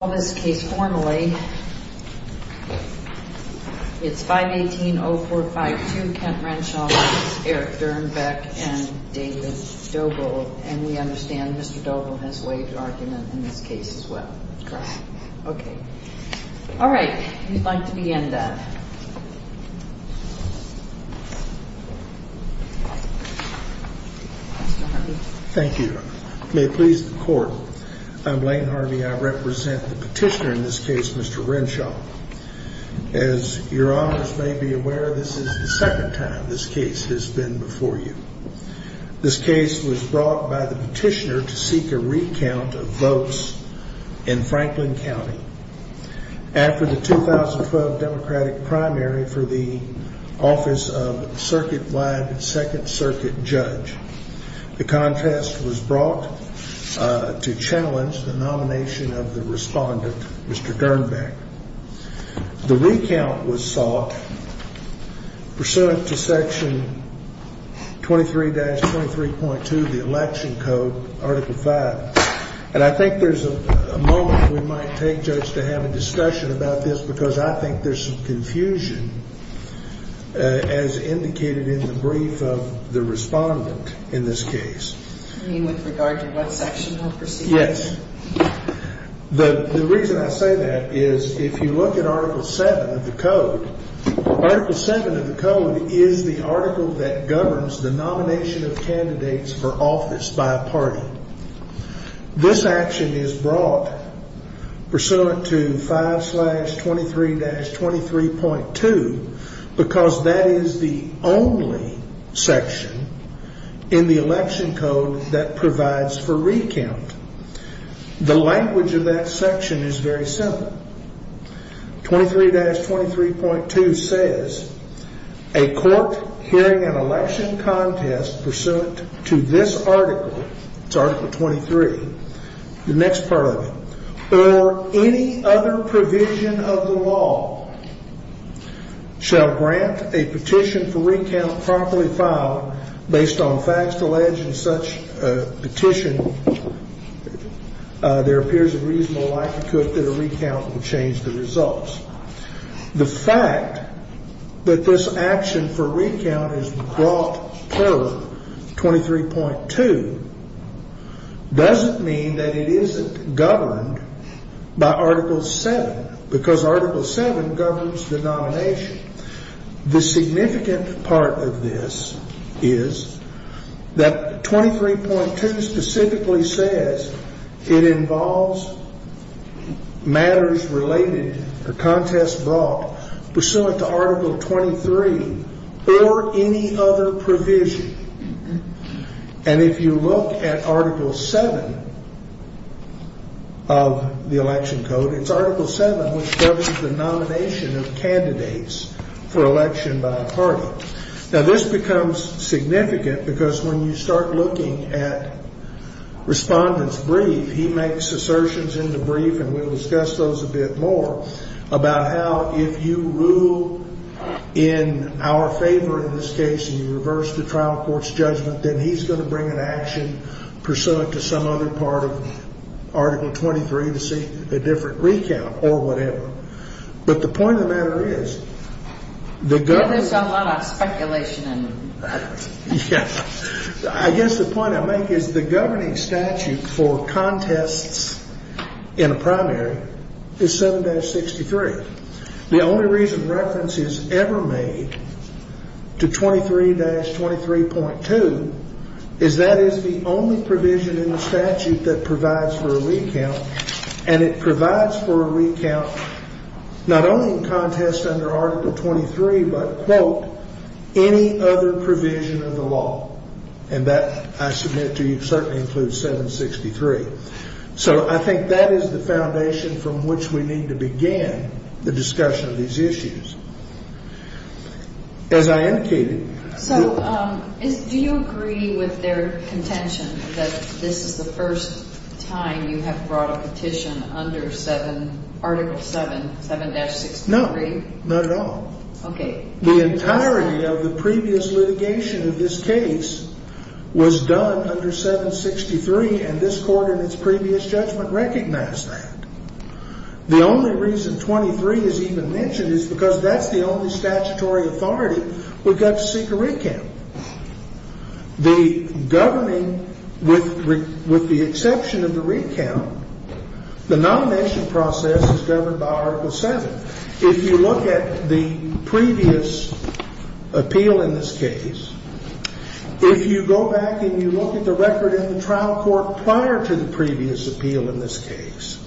All this case formally. It's 518-0452 Kent Renshaw v. Dirnbeck and David Doble. And we understand Mr. Doble has waived argument in this case as well. Correct. Okay. All right. Who'd like to begin, then? Thank you. May it please the court. I'm Blaine Harvey. I represent the petitioner in this case, Mr. Renshaw. As your honors may be aware, this is the second time this case has been before you. This case was brought by the petitioner to seek a recount of votes in Franklin County after the 2012 Democratic primary for the office of circuit-wide second circuit judge. The contest was brought to challenge the nomination of the respondent, Mr. Dirnbeck. The recount was sought pursuant to Section 23-23.2 of the Election Code, Article 5. And I think there's a moment we might take, Judge, to have a discussion about this because I think there's some confusion as indicated in the brief of the respondent in this case. You mean with regard to what section or procedure? Yes. The reason I say that is if you look at Article 7 of the code, Article 7 of the code is the article that governs the nomination of candidates for office by a party. This action is brought pursuant to 5-23-23.2 because that is the only section in the Election Code that provides for recount. The language of that section is very simple. 23-23.2 says, a court hearing an election contest pursuant to this article, Article 23, the next part of it, or any other provision of the law, shall grant a petition for recount promptly filed based on facts alleged in such a petition. There appears a reasonable likelihood that a recount will change the results. The fact that this action for recount is brought pursuant to 23.2 doesn't mean that it isn't governed by Article 7 because Article 7 governs the nomination. The significant part of this is that 23.2 specifically says it involves matters related or contests brought pursuant to Article 23 or any other provision. And if you look at Article 7 of the Election Code, it's Article 7 which governs the nomination of candidates for election by a party. Now this becomes significant because when you start looking at Respondent's brief, he makes assertions in the brief, and we'll discuss those a bit more, about how if you rule in our favor in this case and you reverse the trial court's judgment, then he's going to bring an action pursuant to some other part of Article 23 to seek a different recount or whatever. But the point of the matter is, I guess the point I make is the governing statute for contests in a primary is 7-63. The only reason reference is ever made to 23-23.2 is that is the only provision in the statute that provides for a recount, and it provides for a recount not only in contests under Article 23 but, quote, any other provision of the law. And that, I submit to you, certainly includes 7-63. So I think that is the foundation from which we need to begin the discussion of these issues. As I indicated... So do you agree with their contention that this is the first time you have brought a petition under 7, Article 7, 7-63? No, not at all. The entirety of the previous litigation of this case was done under 7-63, and this court in its previous judgment recognized that. The only reason 23 is even mentioned is because that's the only statutory authority we've got to seek a recount. The governing, with the exception of the recount, the nomination process is governed by Article 7. If you look at the previous appeal in this case, if you go back and you look at the record in the trial court prior to the previous appeal in this case,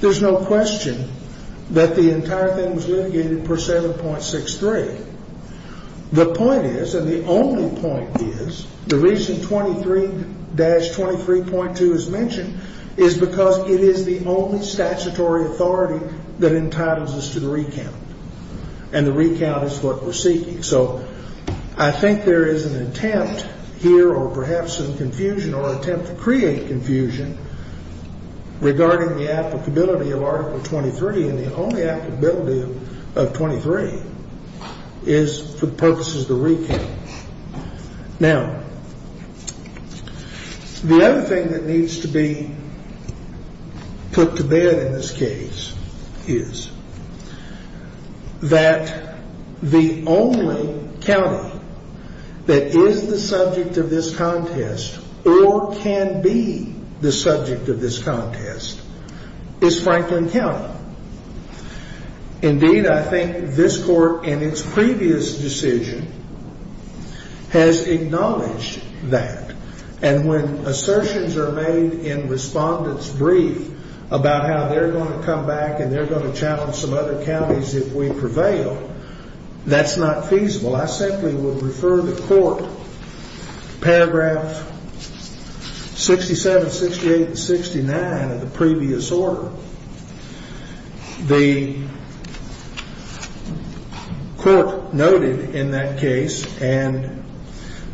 there's no question that the entire thing was litigated per 7.63. The point is, and the only point is, the reason 23-23.2 is mentioned is because it is the only statutory authority that entitles us to the recount, and the recount is what we're seeking. So I think there is an attempt here, or perhaps some confusion, or an attempt to create confusion regarding the applicability of Article 23, and the only applicability of 23 is for purposes of the recount. Now, the other thing that needs to be put to bed in this case is that the only county that is the subject of this contest, or can be the subject of this contest, is Franklin County. Indeed, I think this court in its previous decision has acknowledged that, and when assertions are made in respondent's brief about how they're going to come back and they're going to challenge some other counties if we prevail, that's not feasible. I simply would refer the court to paragraph 67, 68, and 69 of the previous order. The court noted in that case, and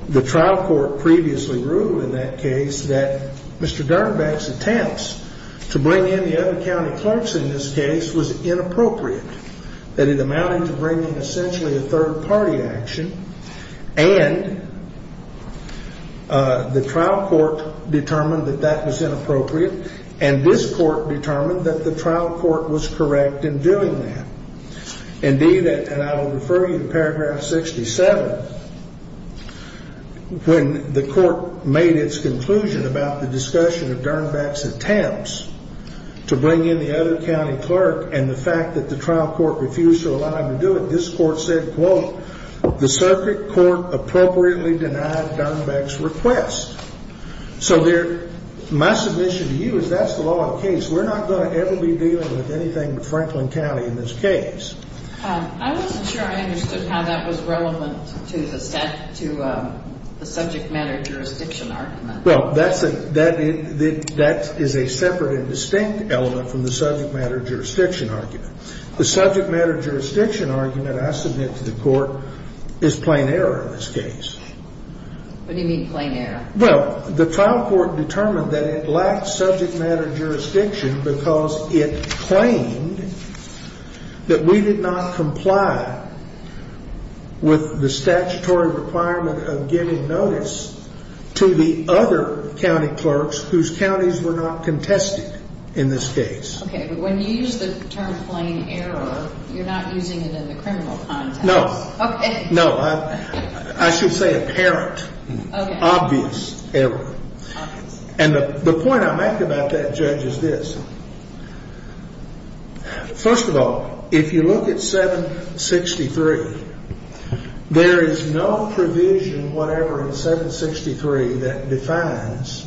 the trial court previously ruled in that case, that Mr. Darnaback's attempts to bring in the other county clerks in this case was inappropriate, that it amounted to bringing essentially a third-party action. And the trial court determined that that was inappropriate, and this court determined that the trial court was correct in doing that. Indeed, and I will refer you to paragraph 67, when the court made its conclusion about the discussion of Darnaback's attempts to bring in the other county clerk and the fact that the trial court refused to allow him to do it, this court said, quote, the circuit court appropriately denied Darnaback's request. So my submission to you is that's the law of the case. We're not going to ever be dealing with anything with Franklin County in this case. I wasn't sure I understood how that was relevant to the subject matter jurisdiction argument. Well, that is a separate and distinct element from the subject matter jurisdiction argument. The subject matter jurisdiction argument I submit to the court is plain error in this case. What do you mean, plain error? Well, the trial court determined that it lacked subject matter jurisdiction because it claimed that we did not comply with the statutory requirement of giving notice to the other county clerks whose counties were not contested in this case. Okay, but when you use the term plain error, you're not using it in the criminal context. No. Okay. No. I should say apparent. Okay. Obvious error. Obvious error. And the point I make about that, Judge, is this. First of all, if you look at 763, there is no provision whatever in 763 that defines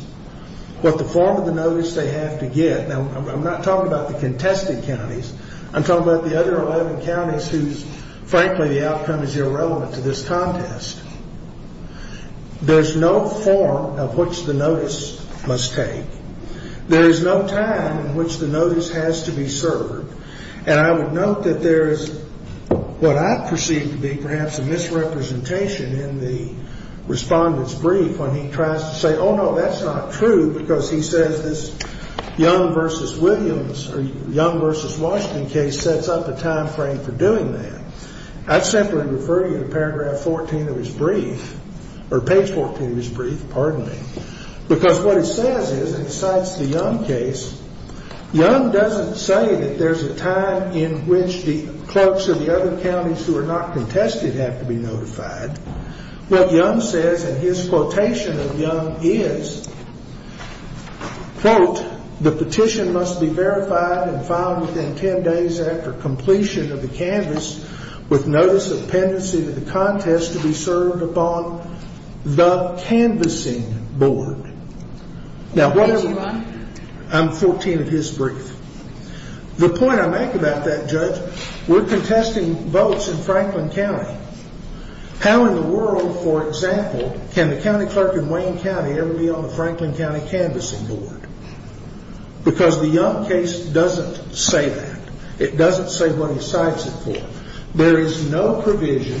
what the form of the notice they have to get. Now, I'm not talking about the contested counties. I'm talking about the other 11 counties whose, frankly, the outcome is irrelevant to this contest. There's no form of which the notice must take. There is no time in which the notice has to be served. And I would note that there is what I perceive to be perhaps a misrepresentation in the Respondent's brief when he tries to say, oh, no, that's not true, because he says this Young v. Williams or Young v. Washington case sets up a time frame for doing that. I'd simply refer you to paragraph 14 of his brief, or page 14 of his brief, pardon me, because what it says is, and it cites the Young case, Young doesn't say that there's a time in which the clerks of the other counties who are not contested have to be notified. What Young says in his quotation of Young is, quote, the petition must be verified and filed within ten days after completion of the canvass with notice of pendency to the contest to be served upon the canvassing board. Now, I'm 14 of his brief. The point I make about that, Judge, we're contesting votes in Franklin County. How in the world, for example, can the county clerk in Wayne County ever be on the Franklin County canvassing board? Because the Young case doesn't say that. It doesn't say what he cites it for. There is no provision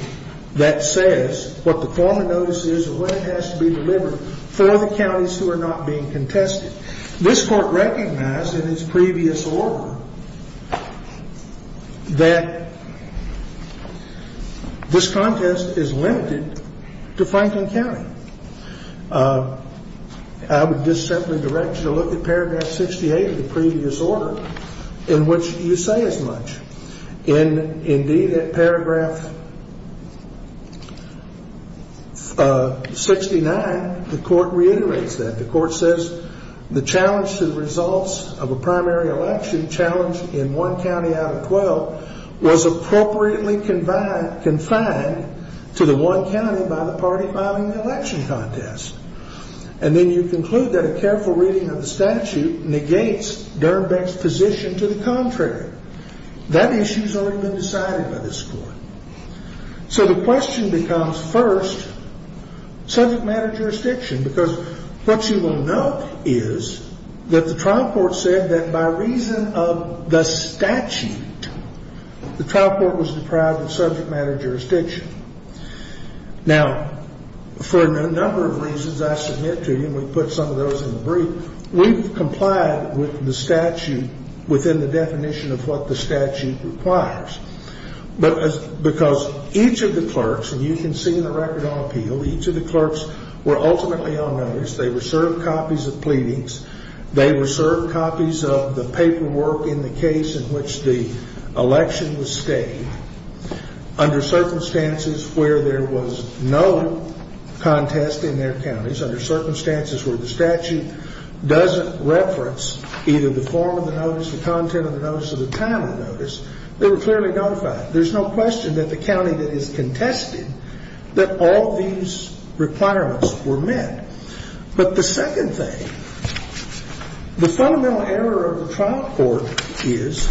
that says what the form of notice is or when it has to be delivered for the counties who are not being contested. This court recognized in its previous order that this contest is limited to Franklin County. I would just simply direct you to look at paragraph 68 of the previous order in which you say as much. Indeed, at paragraph 69, the court reiterates that. The court says the challenge to the results of a primary election challenge in one county out of 12 was appropriately confined to the one county by the party filing the election contest. And then you conclude that a careful reading of the statute negates Dernbeck's position to the contrary. That issue has already been decided by this court. So the question becomes, first, subject matter jurisdiction. Because what you will note is that the trial court said that by reason of the statute, the trial court was deprived of subject matter jurisdiction. Now, for a number of reasons, I submit to you, and we put some of those in the brief, we've complied with the statute within the definition of what the statute requires. Because each of the clerks, and you can see in the record on appeal, each of the clerks were ultimately on notice. They were served copies of pleadings. They were served copies of the paperwork in the case in which the election was staged under circumstances where there was no contest in their counties, under circumstances where the statute doesn't reference either the form of the notice, the content of the notice, or the time of the notice. They were clearly notified. There's no question that the county that is contested, that all these requirements were met. But the second thing, the fundamental error of the trial court is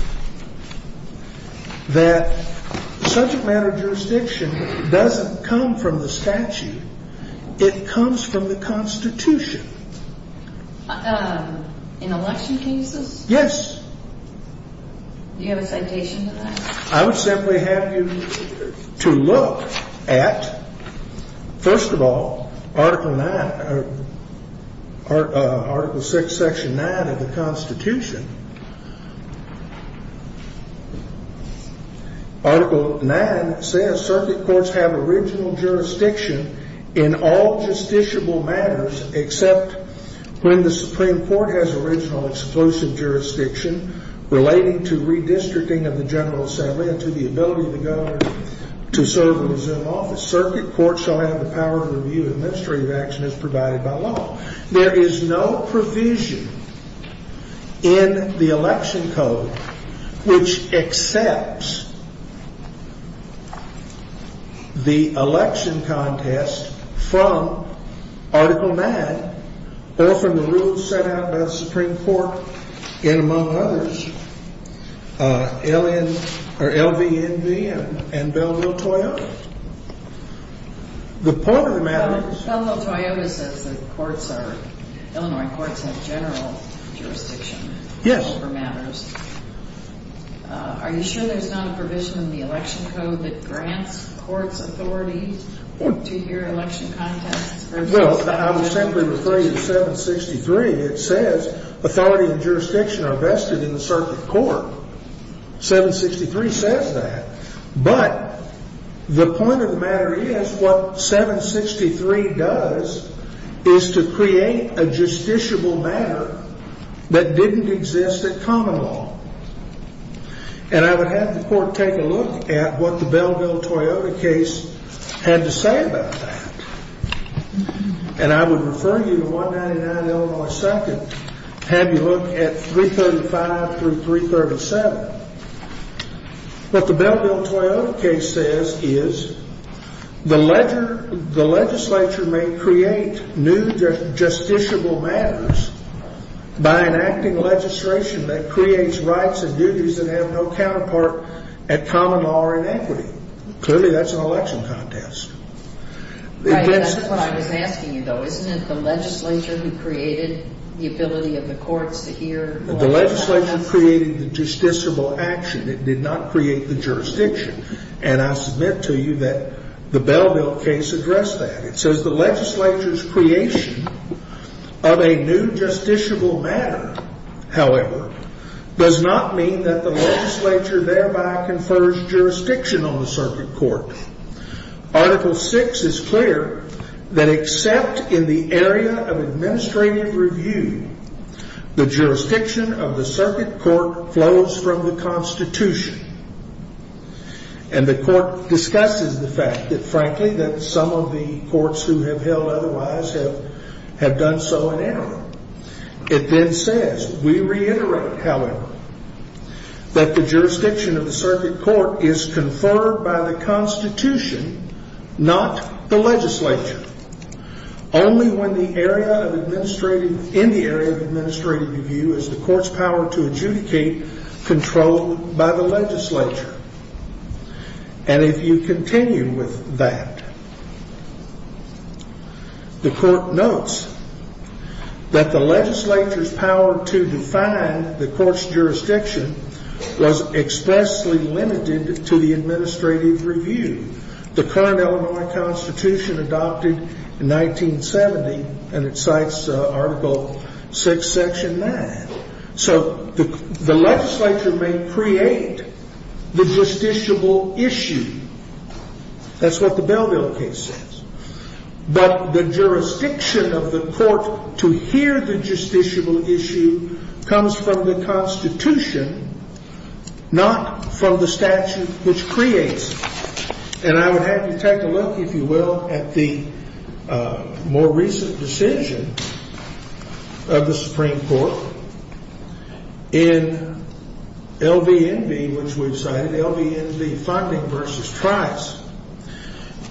that subject matter jurisdiction doesn't come from the statute. It comes from the Constitution. In election cases? Yes. Do you have a citation to that? I would simply have you to look at, first of all, Article 6, Section 9 of the Constitution. Article 9 says, circuit courts have original jurisdiction in all justiciable matters except when the Supreme Court has original exclusive jurisdiction relating to redistricting of the General Assembly and to the ability of the Governor to serve in his own office. Circuit courts shall have the power to review administrative action as provided by law. There is no provision in the election code which accepts the election contest from Article 9 or from the rules set out by the Supreme Court in, among others, LVNV and Bellville-Toyota. The point of the matter is... Bellville-Toyota says the courts are, Illinois courts have general jurisdiction over matters. Yes. Are you sure there's not a provision in the election code that grants courts authority to hear election contests? Well, I would simply refer you to 763. It says authority and jurisdiction are vested in the circuit court. 763 says that. But the point of the matter is what 763 does is to create a justiciable matter that didn't exist at common law. And I would have the court take a look at what the Bellville-Toyota case had to say about that. And I would refer you to 199 Illinois 2nd, have you look at 335 through 337. What the Bellville-Toyota case says is the legislature may create new justiciable matters by enacting legislation that creates rights and duties that have no counterpart at common law or in equity. Clearly, that's an election contest. That's what I was asking you, though. Isn't it the legislature who created the ability of the courts to hear election contests? The legislature created the justiciable action. It did not create the jurisdiction. And I submit to you that the Bellville case addressed that. It says the legislature's creation of a new justiciable matter, however, does not mean that the legislature thereby confers jurisdiction on the circuit court. Article 6 is clear that except in the area of administrative review, the jurisdiction of the circuit court flows from the Constitution. And the court discusses the fact that, frankly, that some of the courts who have held otherwise have done so in error. It then says, we reiterate, however, that the jurisdiction of the circuit court is conferred by the Constitution, not the legislature. Only in the area of administrative review is the court's power to adjudicate controlled by the legislature. And if you continue with that, the court notes that the legislature's power to define the court's jurisdiction was expressly limited to the administrative review. The current Illinois Constitution adopted in 1970, and it cites Article 6, Section 9. So the legislature may create the justiciable issue. That's what the Bellville case says. But the jurisdiction of the court to hear the justiciable issue comes from the Constitution, not from the statute which creates it. And I would have you take a look, if you will, at the more recent decision of the Supreme Court in LVNV, which we've cited, LVNV funding versus Trice,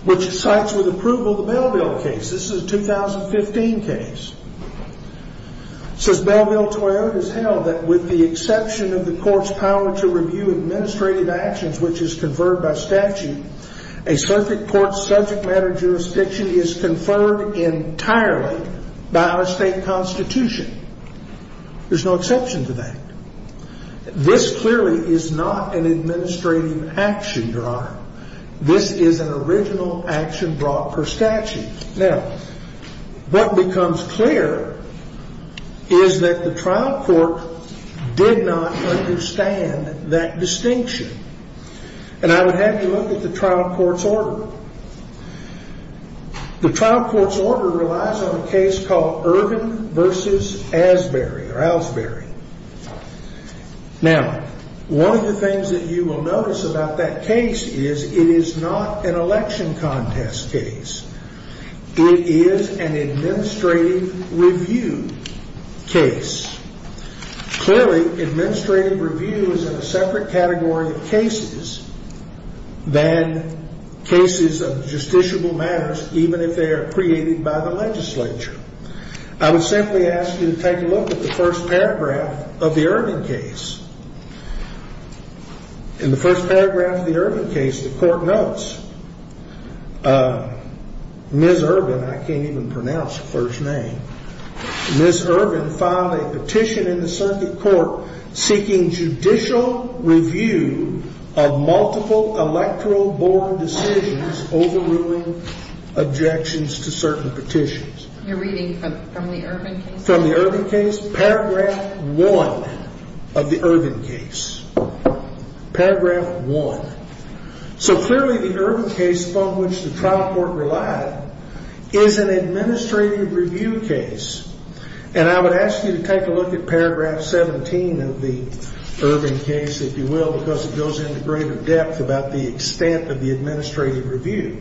which cites with approval the Bellville case. This is a 2015 case. It says Bellville-Toyota's held that with the exception of the court's power to review administrative actions, which is conferred by statute, a circuit court's subject matter jurisdiction is conferred entirely by our state Constitution. There's no exception to that. This clearly is not an administrative action, Your Honor. This is an original action brought per statute. Now, what becomes clear is that the trial court did not understand that distinction. And I would have you look at the trial court's order. The trial court's order relies on a case called Ervin versus Asbury or Asbury. Now, one of the things that you will notice about that case is it is not an election contest case. It is an administrative review case. Clearly, administrative review is in a separate category of cases than cases of justiciable matters, even if they are created by the legislature. I would simply ask you to take a look at the first paragraph of the Ervin case. In the first paragraph of the Ervin case, the court notes, Ms. Ervin, I can't even pronounce the clerk's name, Ms. Ervin filed a petition in the circuit court seeking judicial review of multiple electoral board decisions overruling objections to certain petitions. You're reading from the Ervin case? From the Ervin case. Paragraph one of the Ervin case. Paragraph one. So clearly the Ervin case from which the trial court relied is an administrative review case. And I would ask you to take a look at paragraph 17 of the Ervin case, if you will, because it goes into greater depth about the extent of the administrative review.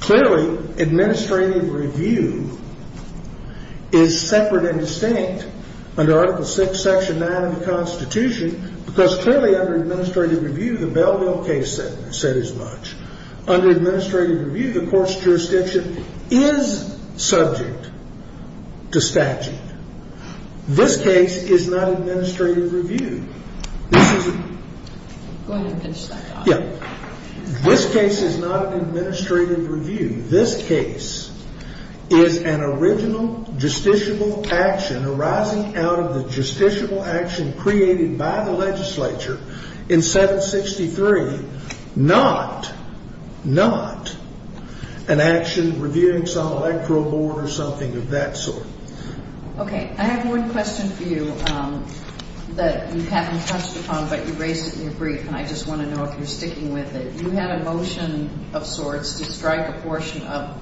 Clearly, administrative review is separate and distinct under Article VI, Section 9 of the Constitution, because clearly under administrative review, the Bellville case said as much. Under administrative review, the court's jurisdiction is subject to statute. This case is not administrative review. Go ahead and finish that. Yeah. This case is not an administrative review. This case is an original justiciable action arising out of the justiciable action created by the legislature in 763, not, not an action reviewing some electoral board or something of that sort. Okay. I have one question for you that you haven't touched upon, but you raised it in your brief, and I just want to know if you're sticking with it. You had a motion of sorts to strike a portion of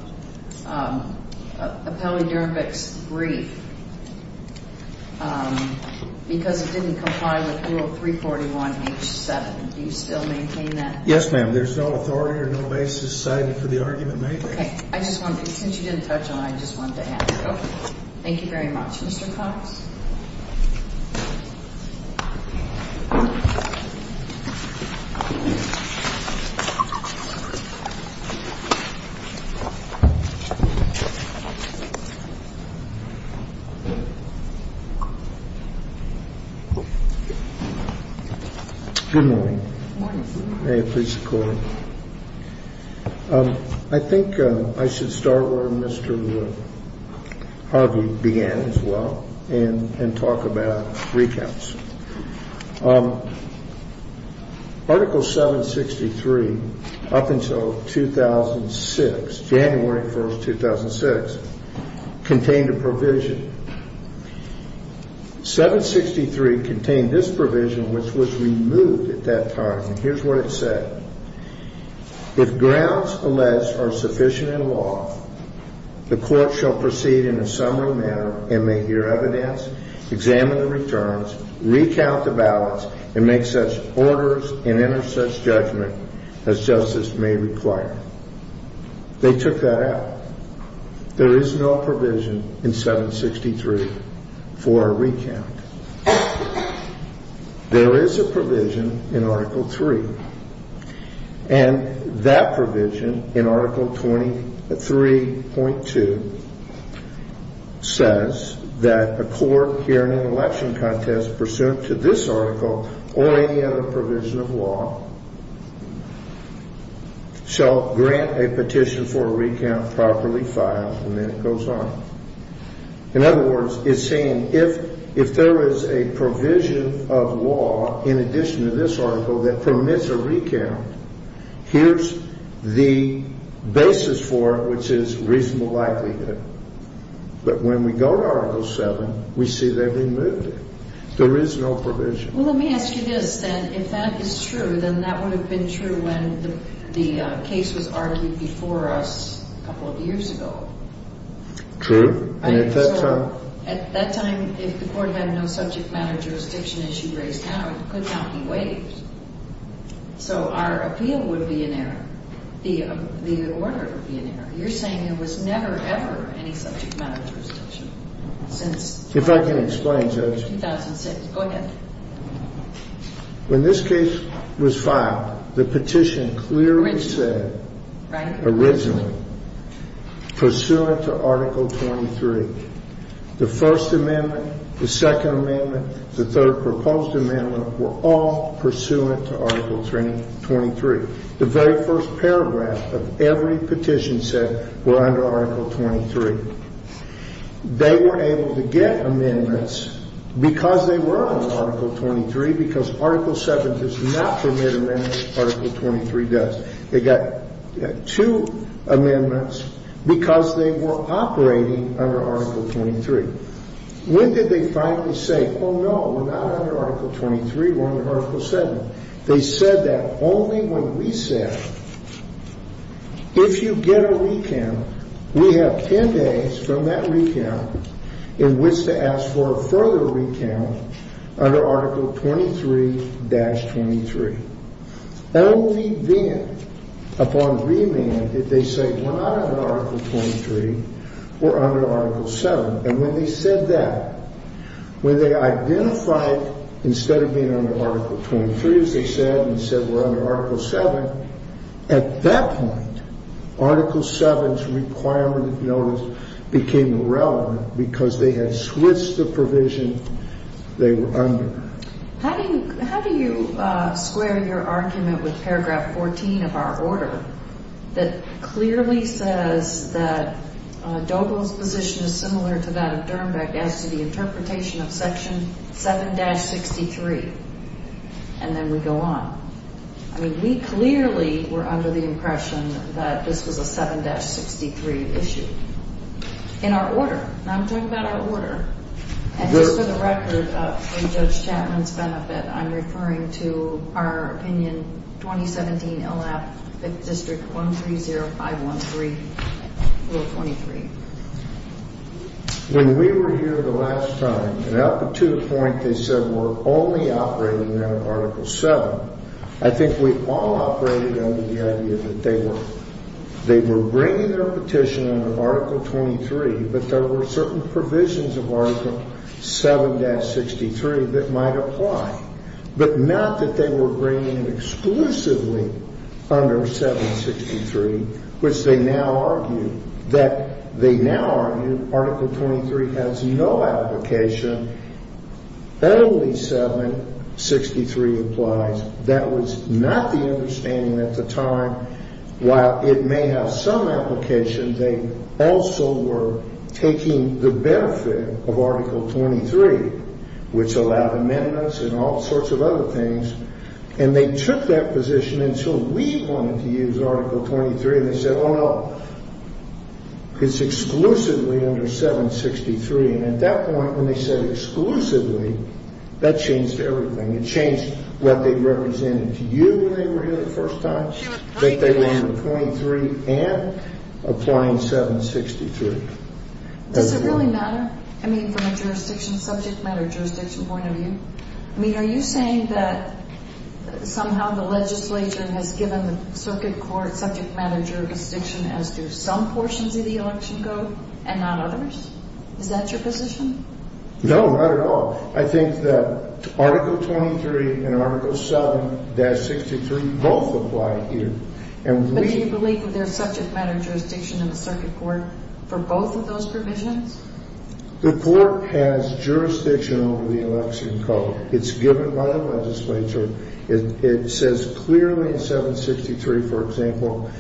Appellee Nurevick's brief because it didn't comply with Rule 341H7. Do you still maintain that? Yes, ma'am. There's no authority or no basis cited for the argument made there. Okay. I just want to, since you didn't touch on it, I just wanted to add to it. Okay. Thank you very much. Mr. Cox? Good morning. Good morning, sir. May I please call? I think I should start where Mr. Harvey began as well and talk about recounts. Article 763, up until 2006, January 1st, 2006, contained a provision. 763 contained this provision, which was removed at that time, and here's what it said. If grounds, alas, are sufficient in law, the court shall proceed in a summary manner and may hear evidence, examine the returns, recount the ballots, and make such orders and enter such judgment as justice may require. They took that out. There is no provision in 763 for a recount. There is a provision in Article 3, and that provision in Article 23.2 says that a court hearing an election contest pursuant to this article or any other provision of law shall grant a petition for a recount properly filed, and then it goes on. In other words, it's saying if there is a provision of law in addition to this article that permits a recount, here's the basis for it, which is reasonable likelihood. But when we go to Article 7, we see they've removed it. There is no provision. Well, let me ask you this, then. If that is true, then that would have been true when the case was argued before us a couple of years ago. True. At that time, if the court had no subject matter jurisdiction issue raised now, it could not be waived. So our appeal would be in error. The order would be in error. You're saying there was never, ever any subject matter jurisdiction since 2006. If I can explain, Judge. In 2006. Go ahead. When this case was filed, the petition clearly said originally pursuant to Article 23. The First Amendment, the Second Amendment, the Third Proposed Amendment were all pursuant to Article 23. The very first paragraph of every petition said we're under Article 23. They were able to get amendments because they were under Article 23, because Article 7 does not permit amendments. Article 23 does. They got two amendments because they were operating under Article 23. When did they finally say, oh, no, we're not under Article 23, we're under Article 7? They said that only when we said if you get a recount, we have 10 days from that recount in which to ask for a further recount under Article 23-23. Only then, upon remand, did they say we're not under Article 23, we're under Article 7. And when they said that, when they identified instead of being under Article 23, as they said, and said we're under Article 7, at that point, Article 7's requirement of notice became irrelevant because they had switched the provision they were under. How do you square your argument with paragraph 14 of our order that clearly says that Doble's position is similar to that of Dermbeck as to the interpretation of Section 7-63? And then we go on. I mean, we clearly were under the impression that this was a 7-63 issue in our order. And I'm talking about our order. And just for the record, for Judge Chapman's benefit, I'm referring to our opinion, 2017 L.F. 5th District 130513, Rule 23. When we were here the last time, and up to the point they said we're only operating under Article 7, I think we all operated under the idea that they were bringing their petition under Article 23, but there were certain provisions of Article 7-63 that might apply. But not that they were bringing it exclusively under 7-63, which they now argue that they now argue Article 23 has no application. Only 7-63 applies. That was not the understanding at the time. While it may have some application, they also were taking the benefit of Article 23, which allowed amendments and all sorts of other things. And they took that position until we wanted to use Article 23. And they said, oh, no, it's exclusively under 7-63. And at that point, when they said exclusively, that changed everything. It changed what they represented to you when they were here the first time, that they were under 23 and applying 7-63. Does it really matter? I mean, from a jurisdiction, subject matter jurisdiction point of view? I mean, are you saying that somehow the legislature has given the circuit court subject matter jurisdiction as do some portions of the election go and not others? Is that your position? No, not at all. I think that Article 23 and Article 7-63 both apply here. But do you believe that there's subject matter jurisdiction in the circuit court for both of those provisions? The court has jurisdiction over the election code. It's given by the legislature. It says clearly in 7-63, for example,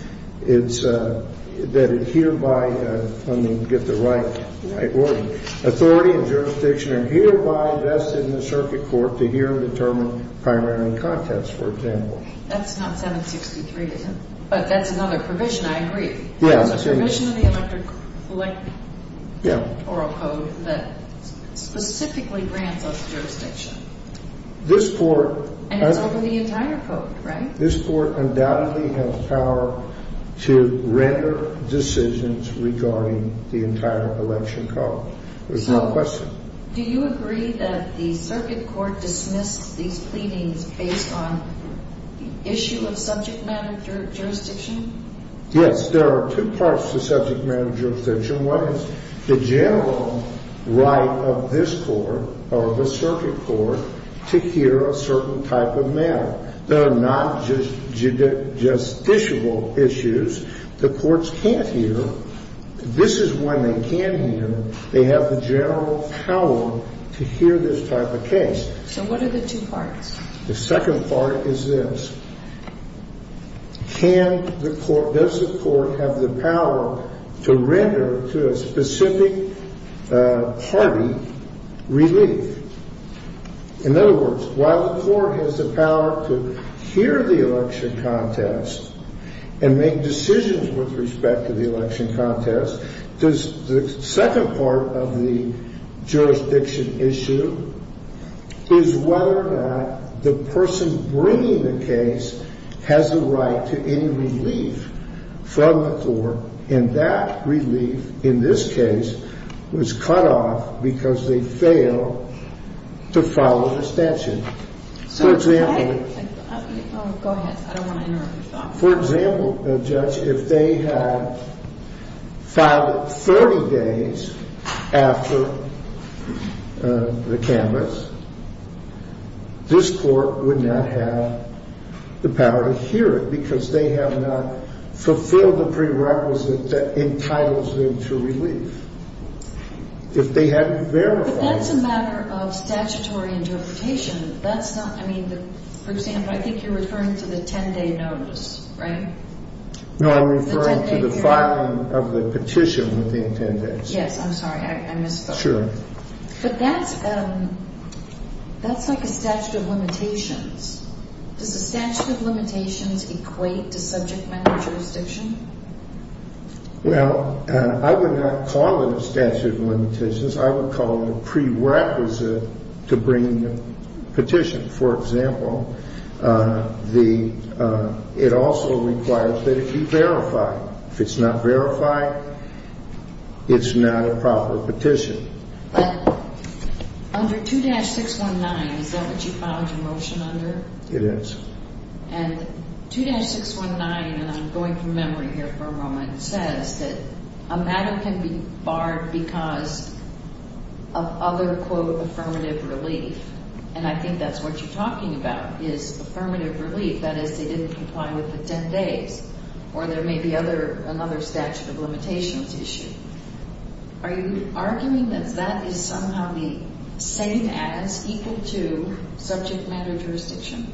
that it hereby, let me get the right wording, authority and jurisdiction are hereby vested in the circuit court to hear and determine primary and contest, for example. That's not 7-63, is it? But that's another provision. I agree. It's a provision in the electoral code that specifically grants us jurisdiction. And it's over the entire code, right? This court undoubtedly has power to render decisions regarding the entire election code. There's no question. So do you agree that the circuit court dismissed these pleadings based on issue of subject matter jurisdiction? Yes. There are two parts to subject matter jurisdiction. One is the general right of this court or the circuit court to hear a certain type of matter. There are not justiciable issues the courts can't hear. This is one they can hear. They have the general power to hear this type of case. So what are the two parts? The second part is this. Does the court have the power to render to a specific party relief? In other words, while the court has the power to hear the election contest and make decisions with respect to the election contest, does the second part of the jurisdiction issue is whether or not the person bringing the case has the right to any relief from the court? And that relief in this case was cut off because they failed to follow the statute. For example. Go ahead. I don't want to interrupt. For example, Judge, if they had filed it 30 days after the canvass, this court would not have the power to hear it because they have not fulfilled the prerequisite that entitles them to relief. If they had verified. Well, that's a matter of statutory interpretation. That's not. I mean, for example, I think you're referring to the 10-day notice, right? No, I'm referring to the filing of the petition within 10 days. Yes. I'm sorry. I missed that. Sure. But that's like a statute of limitations. Does the statute of limitations equate to subject matter jurisdiction? Well, I would not call it a statute of limitations. I would call it a prerequisite to bring a petition. For example, it also requires that it be verified. If it's not verified, it's not a proper petition. Under 2-619, is that what you filed your motion under? It is. And 2-619, and I'm going from memory here for a moment, says that a matter can be barred because of other, quote, affirmative relief. And I think that's what you're talking about is affirmative relief. That is, they didn't comply with the 10 days. Or there may be another statute of limitations issue. Are you arguing that that is somehow the same as equal to subject matter jurisdiction?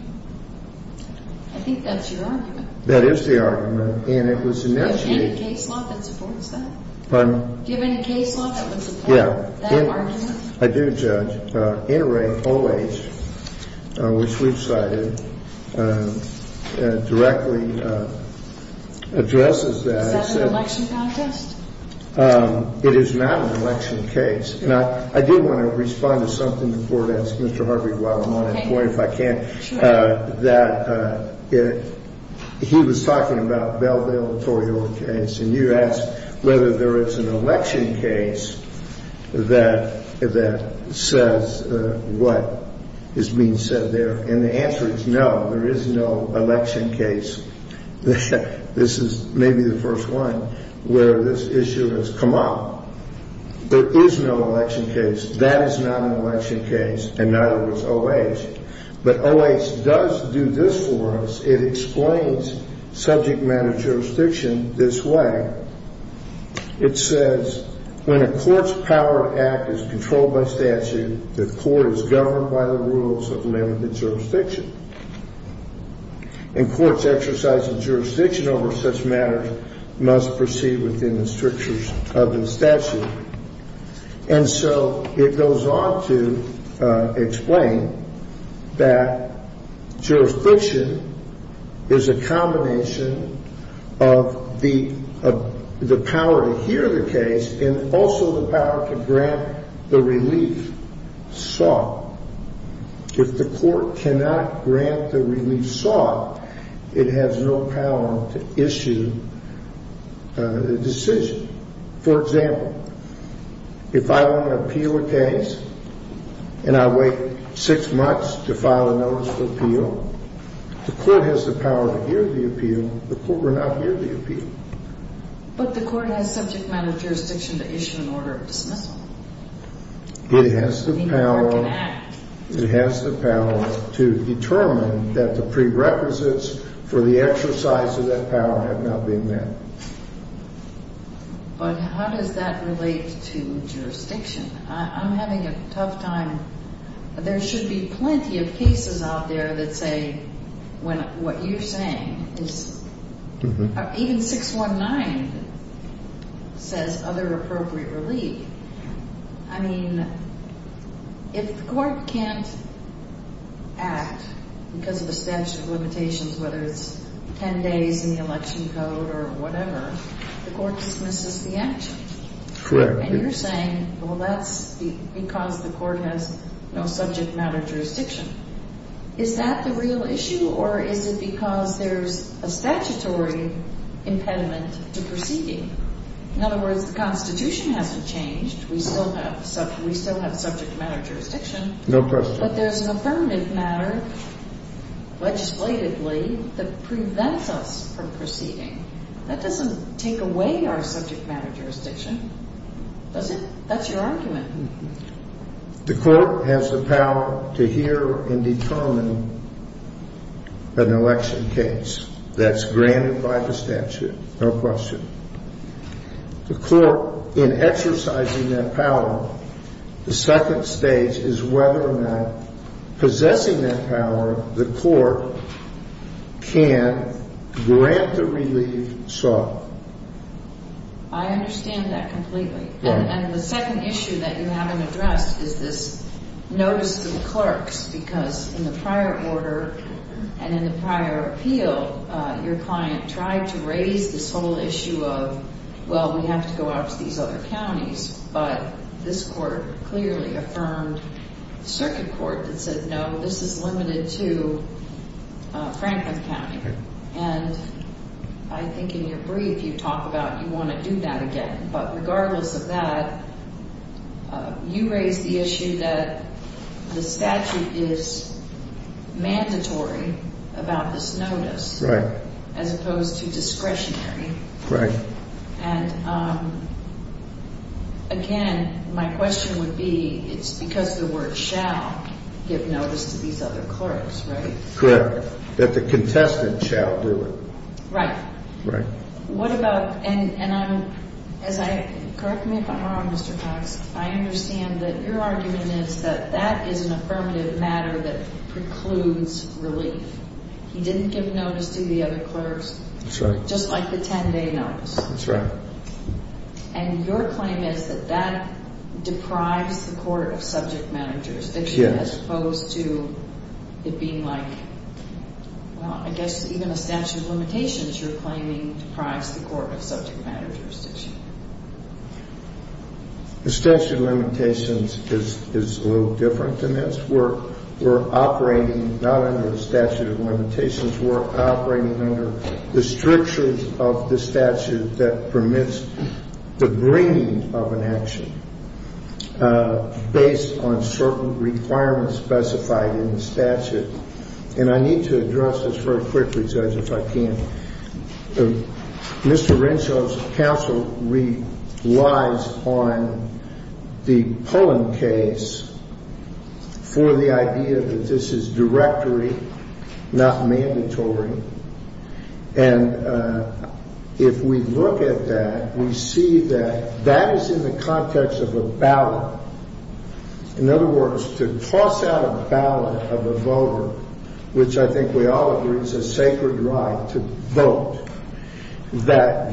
I think that's your argument. That is the argument, and it was initiated. Do you have any case law that supports that? Pardon? Do you have any case law that would support that argument? I do, Judge. NRA OH, which we've cited, directly addresses that. Is that an election contest? It is not an election case. And I do want to respond to something the Court asked Mr. Harvey while I'm on it. Okay. Point if I can. Sure. That he was talking about Belleville and Torrio case. And you asked whether there is an election case that says what is being said there. And the answer is no. There is no election case. This is maybe the first one where this issue has come up. There is no election case. That is not an election case, and neither was OH. But OH does do this for us. It explains subject matter jurisdiction this way. It says when a court's power to act is controlled by statute, the court is governed by the rules of limited jurisdiction. And courts exercising jurisdiction over such matters must proceed within the strictures of the statute. And so it goes on to explain that jurisdiction is a combination of the power to hear the case and also the power to grant the relief sought. If the court cannot grant the relief sought, it has no power to issue a decision. For example, if I want to appeal a case and I wait six months to file a notice of appeal, the court has the power to hear the appeal. The court will not hear the appeal. But the court has subject matter jurisdiction to issue an order of dismissal. It has the power to determine that the prerequisites for the exercise of that power have not been met. But how does that relate to jurisdiction? I'm having a tough time. There should be plenty of cases out there that say what you're saying is... Even 619 says other appropriate relief. I mean, if the court can't act because of the statute of limitations, whether it's 10 days in the election code or whatever, the court dismisses the action. Correct. And you're saying, well, that's because the court has no subject matter jurisdiction. Is that the real issue, or is it because there's a statutory impediment to proceeding? In other words, the Constitution hasn't changed. We still have subject matter jurisdiction. No question. But there's an affirmative matter legislatively that prevents us from proceeding. That doesn't take away our subject matter jurisdiction. That's your argument. The court has the power to hear and determine an election case. That's granted by the statute. No question. The court, in exercising that power, the second stage is whether or not, I understand that completely. And the second issue that you haven't addressed is this notice to the clerks, because in the prior order and in the prior appeal, your client tried to raise this whole issue of, well, we have to go out to these other counties, but this court clearly affirmed circuit court that said, no, this is limited to Franklin County. And I think in your brief you talk about you want to do that again. But regardless of that, you raise the issue that the statute is mandatory about this notice as opposed to discretionary. And, again, my question would be, it's because the word shall give notice to these other clerks, right? Correct. That the contestant shall do it. Right. Right. What about, and I'm, correct me if I'm wrong, Mr. Cox, I understand that your argument is that that is an affirmative matter that precludes relief. He didn't give notice to the other clerks. That's right. Just like the 10-day notice. That's right. And your claim is that that deprives the court of subject matter jurisdiction as opposed to it being like, well, I guess even a statute of limitations you're claiming deprives the court of subject matter jurisdiction. The statute of limitations is a little different than this. We're operating not under the statute of limitations. We're operating under the strictures of the statute that permits the bringing of an action based on certain requirements specified in the statute. And I need to address this very quickly, Judge, if I can. Mr. Renshaw's counsel relies on the Poland case for the idea that this is directory, not mandatory. And if we look at that, we see that that is in the context of a ballot. In other words, to toss out a ballot of a voter, which I think we all agree is a sacred right to vote, that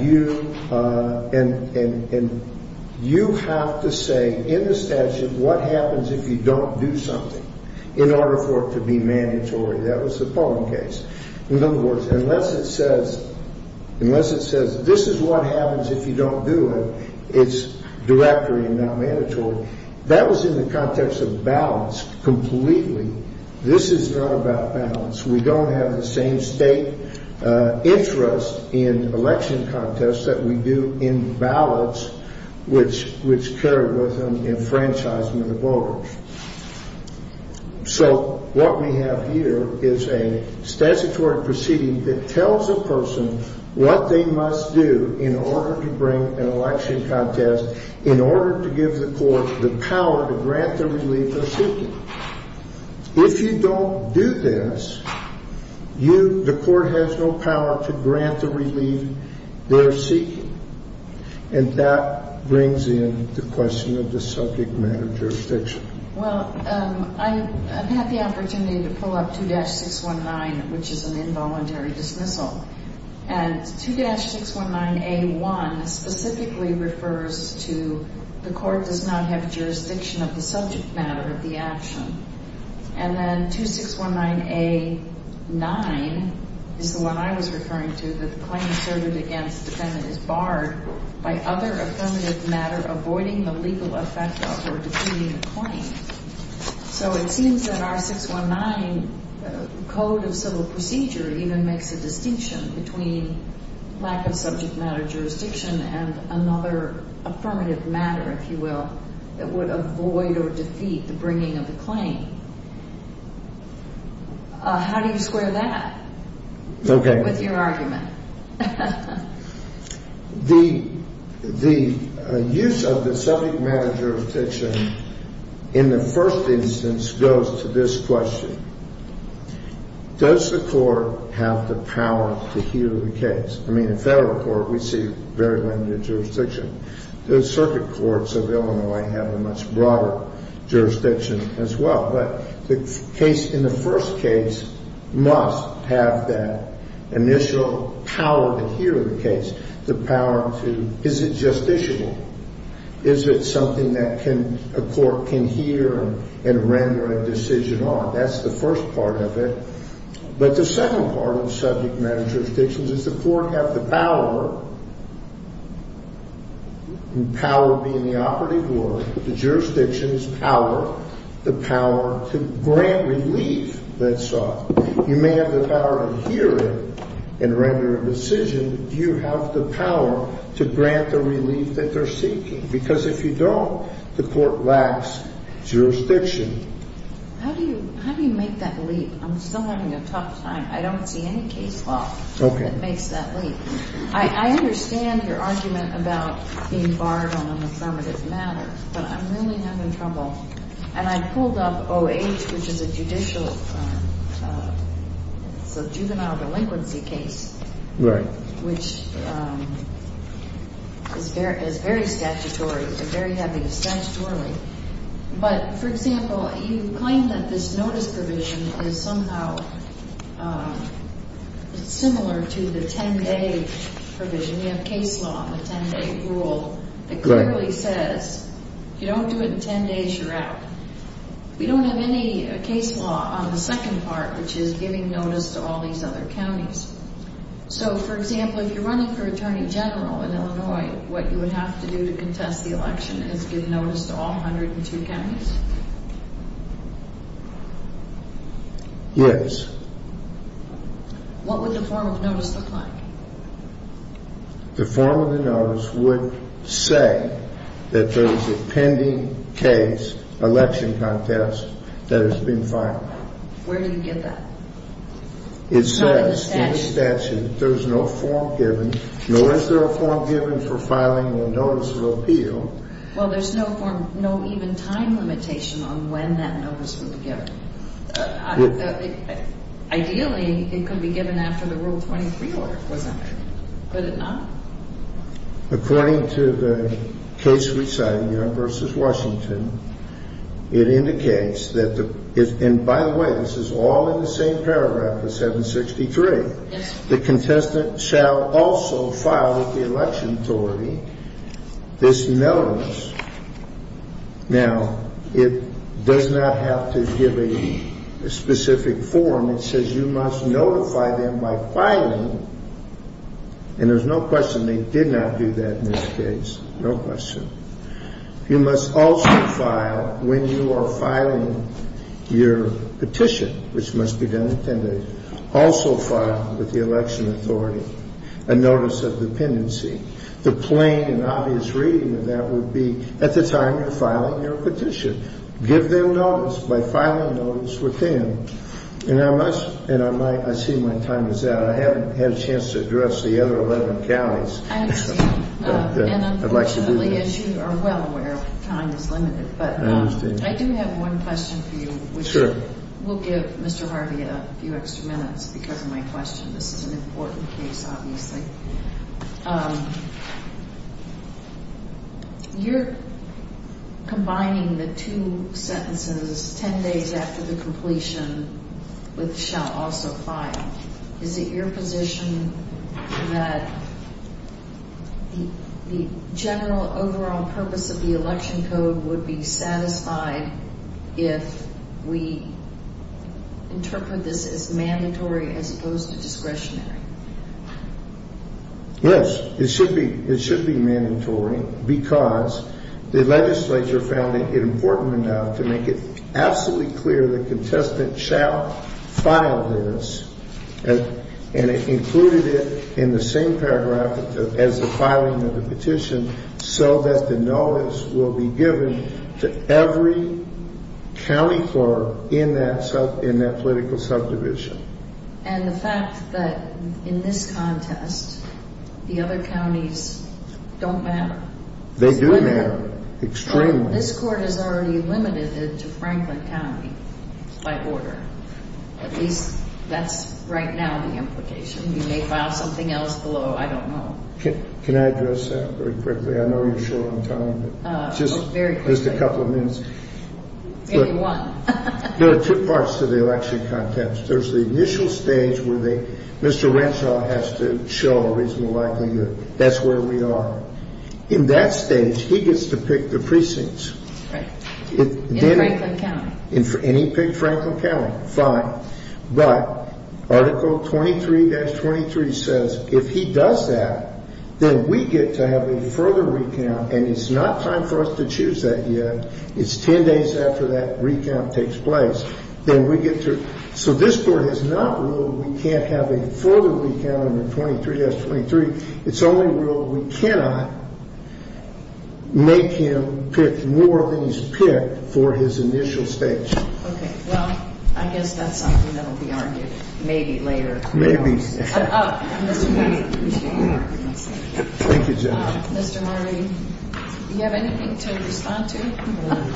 you have to say in the statute what happens if you don't do something in order for it to be mandatory. That was the Poland case. In other words, unless it says this is what happens if you don't do it, it's directory and not mandatory. That was in the context of ballots completely. This is not about ballots. We don't have the same state interest in election contests that we do in ballots, which carry with them enfranchisement of voters. So what we have here is a statutory proceeding that tells a person what they must do in order to bring an election contest, in order to give the court the power to grant the relief they're seeking. If you don't do this, the court has no power to grant the relief they're seeking. And that brings in the question of the subject matter jurisdiction. Well, I've had the opportunity to pull up 2-619, which is an involuntary dismissal. And 2-619A1 specifically refers to the court does not have jurisdiction of the subject matter of the action. And then 2-619A9 is the one I was referring to, that the claim asserted against defendant is barred by other affirmative matter, avoiding the legal effect of or defeating the claim. So it seems that our 619 code of civil procedure even makes a distinction between lack of subject matter jurisdiction and another affirmative matter, if you will, that would avoid or defeat the bringing of the claim. How do you square that with your argument? The use of the subject matter jurisdiction in the first instance goes to this question. Does the court have the power to hear the case? I mean, in federal court, we see very limited jurisdiction. The circuit courts of Illinois have a much broader jurisdiction as well. But the case in the first case must have that initial power to hear the case, the power to, is it justiciable? Is it something that a court can hear and render a decision on? That's the first part of it. But the second part of subject matter jurisdictions is the court have the power, power being the operative word, the jurisdiction's power, the power to grant relief that's sought. You may have the power to hear it and render a decision, but do you have the power to grant the relief that they're seeking? Because if you don't, the court lacks jurisdiction. How do you make that leap? I'm still having a tough time. I don't see any case law that makes that leap. I understand your argument about being barred on an affirmative matter, but I'm really having trouble. And I pulled up O.H., which is a judicial, it's a juvenile delinquency case. Right. Which is very statutory, a very heavy statutory. But, for example, you claim that this notice provision is somehow similar to the 10-day provision. You have case law on the 10-day rule that clearly says if you don't do it in 10 days, you're out. We don't have any case law on the second part, which is giving notice to all these other counties. So, for example, if you're running for attorney general in Illinois, what you would have to do to contest the election is give notice to all 102 counties? Yes. What would the form of notice look like? The form of the notice would say that there's a pending case, election contest, that has been filed. Where do you get that? It says in the statute there's no form given. Nor is there a form given for filing a notice of appeal. Well, there's no even time limitation on when that notice would be given. Ideally, it could be given after the Rule 23 order, couldn't it? Could it not? According to the case we cited here versus Washington, it indicates that the – and, by the way, this is all in the same paragraph, the 763. Yes. The contestant shall also file with the election authority this notice. Now, it does not have to give a specific form. It says you must notify them by filing. And there's no question they did not do that in this case. No question. You must also file when you are filing your petition, which must be done in 10 days. Also file with the election authority a notice of dependency. The plain and obvious reading of that would be at the time you're filing your petition, give them notice by filing notice with them. And I must – and I see my time is out. I haven't had a chance to address the other 11 counties. I understand. And unfortunately, as you are well aware, time is limited. But I do have one question for you. Sure. We'll give Mr. Harvey a few extra minutes because of my question. This is an important case, obviously. You're combining the two sentences, 10 days after the completion, with shall also file. Is it your position that the general overall purpose of the election code would be satisfied if we interpret this as mandatory as opposed to discretionary? Yes. It should be mandatory because the legislature found it important enough to make it absolutely clear the contestant shall file this. And it included it in the same paragraph as the filing of the petition so that the notice will be given to every county clerk in that political subdivision. And the fact that in this contest, the other counties don't matter. They do matter extremely. This Court has already limited it to Franklin County by order. At least that's right now the implication. You may file something else below. I don't know. Can I address that very quickly? I know you're short on time, but just a couple of minutes. Maybe one. There are two parts to the election contest. There's the initial stage where Mr. Renshaw has to show a reasonable likelihood. That's where we are. In that stage, he gets to pick the precincts. In Franklin County. And he picked Franklin County. Fine. But Article 23-23 says if he does that, then we get to have a further recount, and it's not time for us to choose that yet. It's 10 days after that recount takes place. Then we get through. So this Court has not ruled we can't have a further recount under 23-23. It's only ruled we cannot make him pick more than he's picked for his initial stage. Okay. Well, I guess that's something that will be argued maybe later. Maybe. Thank you, Jennifer. Mr. Marley, do you have anything to respond to?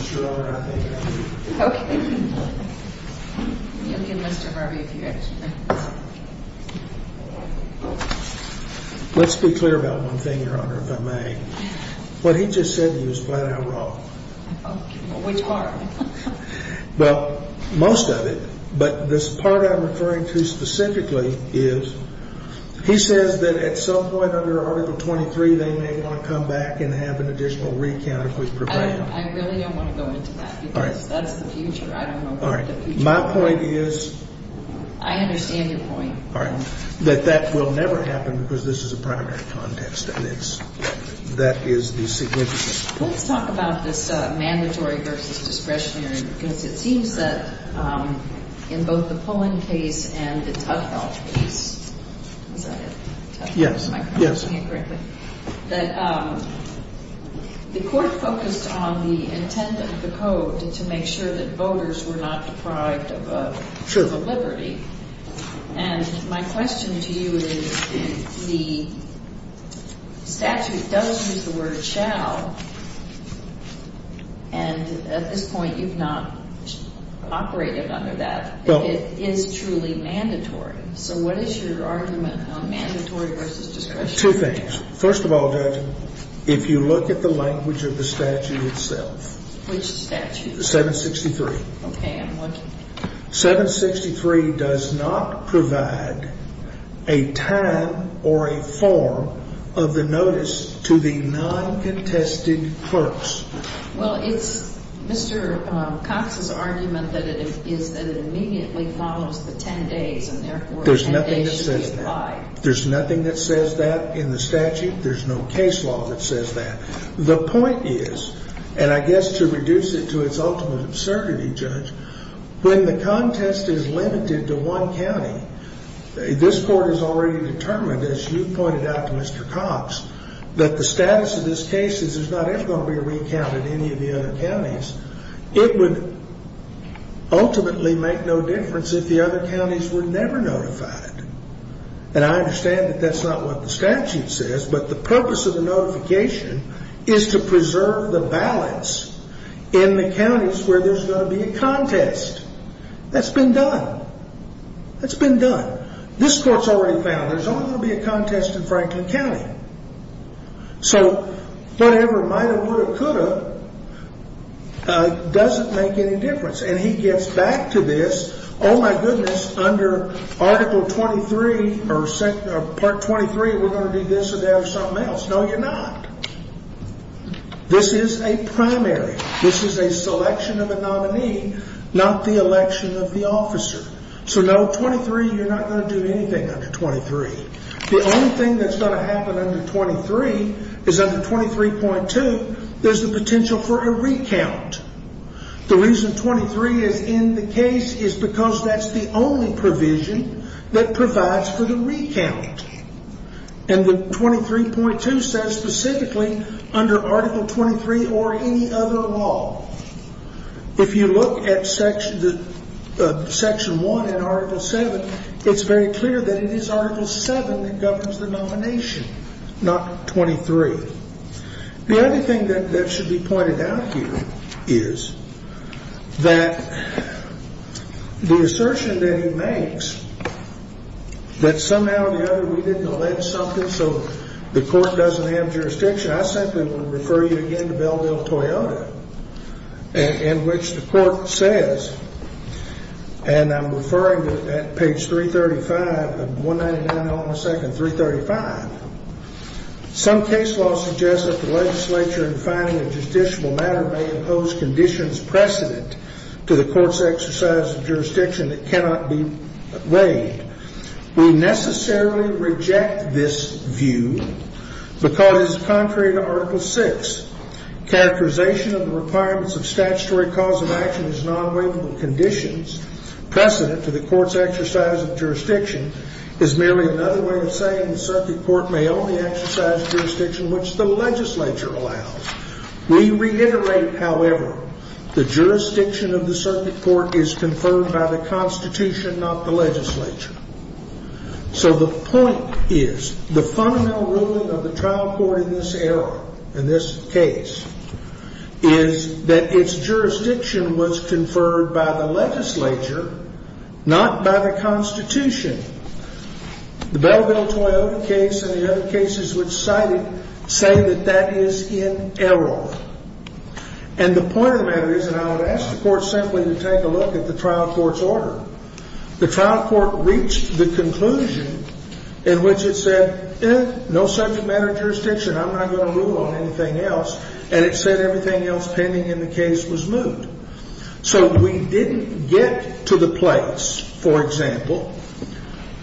Sure, I think I do. Okay. Let's be clear about one thing, Your Honor, if I may. What he just said to you is flat out wrong. Which part? Well, most of it. But this part I'm referring to specifically is he says that at some point under Article 23, they may want to come back and have an additional recount if we prepare them. I really don't want to go into that because that's the future. I don't know about the future. All right. My point is... I understand your point. All right. That that will never happen because this is a primary context, and it's – that is the significance. Let's talk about this mandatory versus discretionary because it seems that in both the Pullen case and the Tuttle case – is that it? Yes. Am I pronouncing it correctly? Yes. The court focused on the intent of the code to make sure that voters were not deprived of liberty. Sure. And my question to you is the statute does use the word shall, and at this point you've not operated under that. It is truly mandatory. So what is your argument on mandatory versus discretionary? Two things. First of all, Judge, if you look at the language of the statute itself... Which statute? 763. Okay. I'm looking. 763 does not provide a time or a form of the notice to the non-contested clerks. Well, it's Mr. Cox's argument that it is that it immediately follows the 10 days, and therefore 10 days should be applied. There's nothing that says that. In the statute, there's no case law that says that. The point is, and I guess to reduce it to its ultimate absurdity, Judge, when the contest is limited to one county, this court has already determined, as you pointed out to Mr. Cox, that the status of this case is there's not ever going to be a recount at any of the other counties. It would ultimately make no difference if the other counties were never notified. And I understand that that's not what the statute says, but the purpose of the notification is to preserve the balance in the counties where there's going to be a contest. That's been done. That's been done. This court's already found there's only going to be a contest in Franklin County. So whatever, might have, would have, could have, doesn't make any difference. And he gets back to this, oh, my goodness, under Article 23 or Part 23, we're going to do this or that or something else. No, you're not. This is a primary. This is a selection of a nominee, not the election of the officer. So no, 23, you're not going to do anything under 23. The only thing that's going to happen under 23 is under 23.2, there's the potential for a recount. The reason 23 is in the case is because that's the only provision that provides for the recount. And the 23.2 says specifically under Article 23 or any other law, if you look at Section 1 and Article 7, it's very clear that it is Article 7 that governs the nomination, not 23. The other thing that should be pointed out here is that the assertion that he makes that somehow or the other we didn't allege something so the court doesn't have jurisdiction, I simply would refer you again to Bellville-Toyota, in which the court says, and I'm referring to it at page 335 of 199, All in a Second, 335. Some case law suggests that the legislature in finding a judicial matter may impose conditions precedent to the court's exercise of jurisdiction that cannot be weighed. We necessarily reject this view because it is contrary to Article 6. Characterization of the requirements of statutory cause of action as non-weightable conditions precedent to the court's exercise of jurisdiction is merely another way of saying the circuit court may only exercise jurisdiction which the legislature allows. We reiterate, however, the jurisdiction of the circuit court is confirmed by the Constitution, not the legislature. So the point is, the fundamental ruling of the trial court in this error, in this case, is that its jurisdiction was conferred by the legislature, not by the Constitution. The Bellville-Toyota case and the other cases which cite it say that that is in error. And the point of the matter is, and I would ask the court simply to take a look at the trial court's order, the trial court reached the conclusion in which it said, eh, no such matter of jurisdiction. I'm not going to rule on anything else. And it said everything else pending in the case was moved. So we didn't get to the place, for example,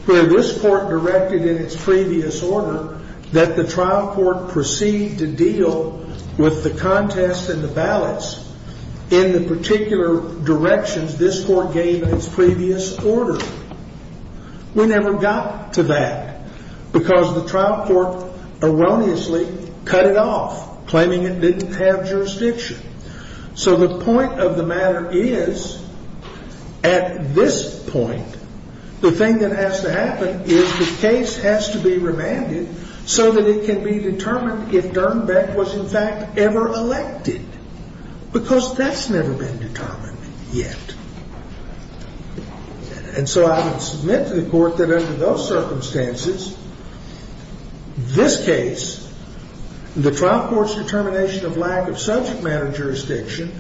where this court directed in its previous order that the trial court proceed to deal with the contest and the ballots in the particular directions this court gave in its previous order. We never got to that because the trial court erroneously cut it off, claiming it didn't have jurisdiction. So the point of the matter is, at this point, the thing that has to happen is the case has to be remanded so that it can be determined if Dernbeck was, in fact, ever elected, because that's never been determined yet. And so I would submit to the court that under those circumstances, this case, the trial court's determination of lack of subject matter jurisdiction,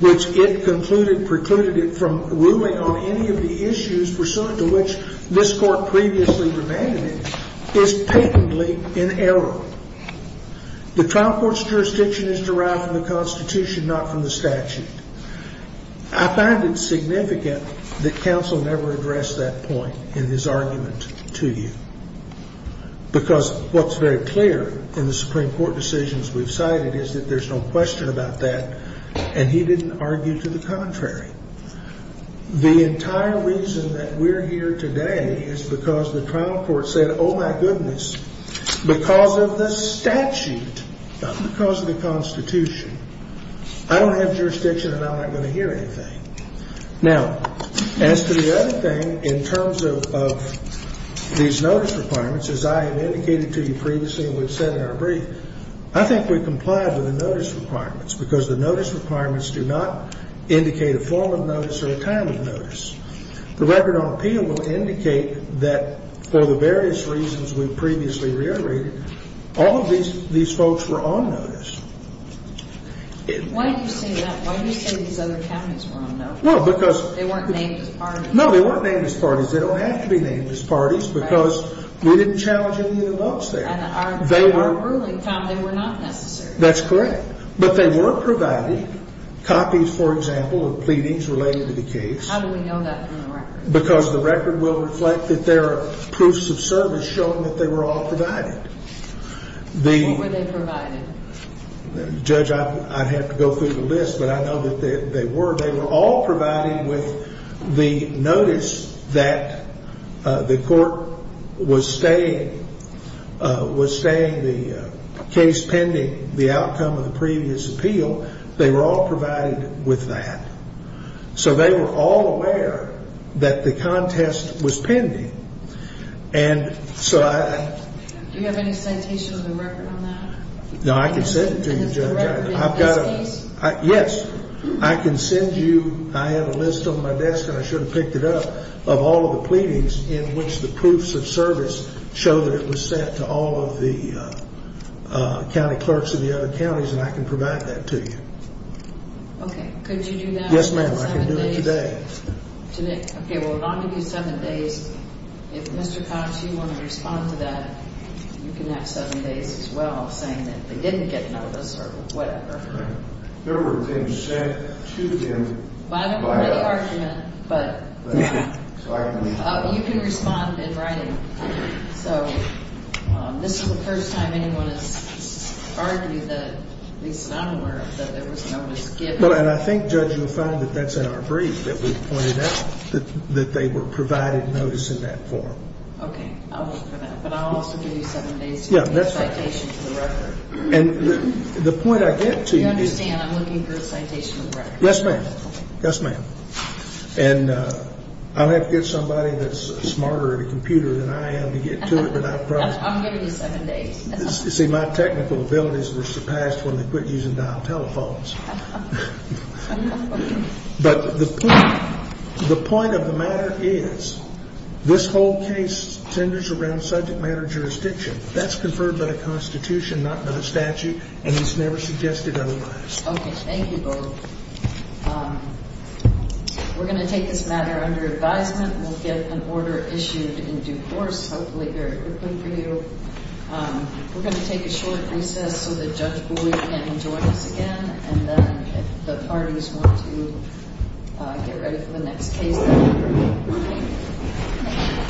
which it concluded precluded it from ruling on any of the issues pursuant to which this court previously demanded it, is patently in error. The trial court's jurisdiction is derived from the Constitution, not from the statute. I find it significant that counsel never addressed that point in his argument to you, because what's very clear in the Supreme Court decisions we've cited is that there's no question about that, and he didn't argue to the contrary. The entire reason that we're here today is because the trial court said, oh, my goodness, because of the statute, not because of the Constitution, I don't have jurisdiction and I'm not going to hear anything. Now, as to the other thing in terms of these notice requirements, as I have indicated to you previously and we've said in our brief, I think we've complied with the notice requirements, because the notice requirements do not indicate a form of notice or a time of notice. The record on appeal will indicate that for the various reasons we've previously reiterated, all of these folks were on notice. Why do you say that? Why do you say these other counties were on notice? Well, because they weren't named as parties. No, they weren't named as parties. They don't have to be named as parties, because we didn't challenge any of the votes there. And in our ruling, Tom, they were not necessary. That's correct. But they were provided copies, for example, of pleadings related to the case. How do we know that from the record? Because the record will reflect that there are proofs of service showing that they were all provided. What were they provided? Judge, I'd have to go through the list, but I know that they were. They were all provided with the notice that the court was staying the case pending the outcome of the previous appeal. They were all provided with that. So they were all aware that the contest was pending. Do you have any citation of the record on that? No, I can send it to you, Judge. And is the record in this case? Yes. I can send you. I have a list on my desk, and I should have picked it up, of all of the pleadings in which the proofs of service show that it was sent to all of the county clerks of the other counties, and I can provide that to you. Okay. Could you do that? Yes, ma'am. I can do it today. Okay. Well, it ought to be seven days. If, Mr. Cox, you want to respond to that, you can have seven days as well, saying that they didn't get notice or whatever. Right. There were things sent to them. Well, I don't know what the argument, but you can respond in writing. So this is the first time anyone has argued that, at least I'm aware of, that there was notice given. And I think, Judge, you'll find that that's in our brief, that we pointed out that they were provided notice in that form. Okay. I'll look for that. But I'll also give you seven days to get a citation for the record. Yeah, that's right. And the point I get to is. You understand, I'm looking for a citation for the record. Yes, ma'am. Yes, ma'am. And I'll have to get somebody that's smarter at a computer than I am to get to it, but I promise. I'll give you seven days. See, my technical abilities were surpassed when they quit using dial telephones. But the point of the matter is, this whole case tenders around subject matter jurisdiction. That's conferred by the Constitution, not by the statute, and it's never suggested otherwise. Okay. Thank you both. We're going to take this matter under advisement. We'll get an order issued in due course, hopefully very quickly for you. We're going to take a short recess so that Judge Bowie can join us again. And then if the parties want to get ready for the next case, that would be great. Thank you.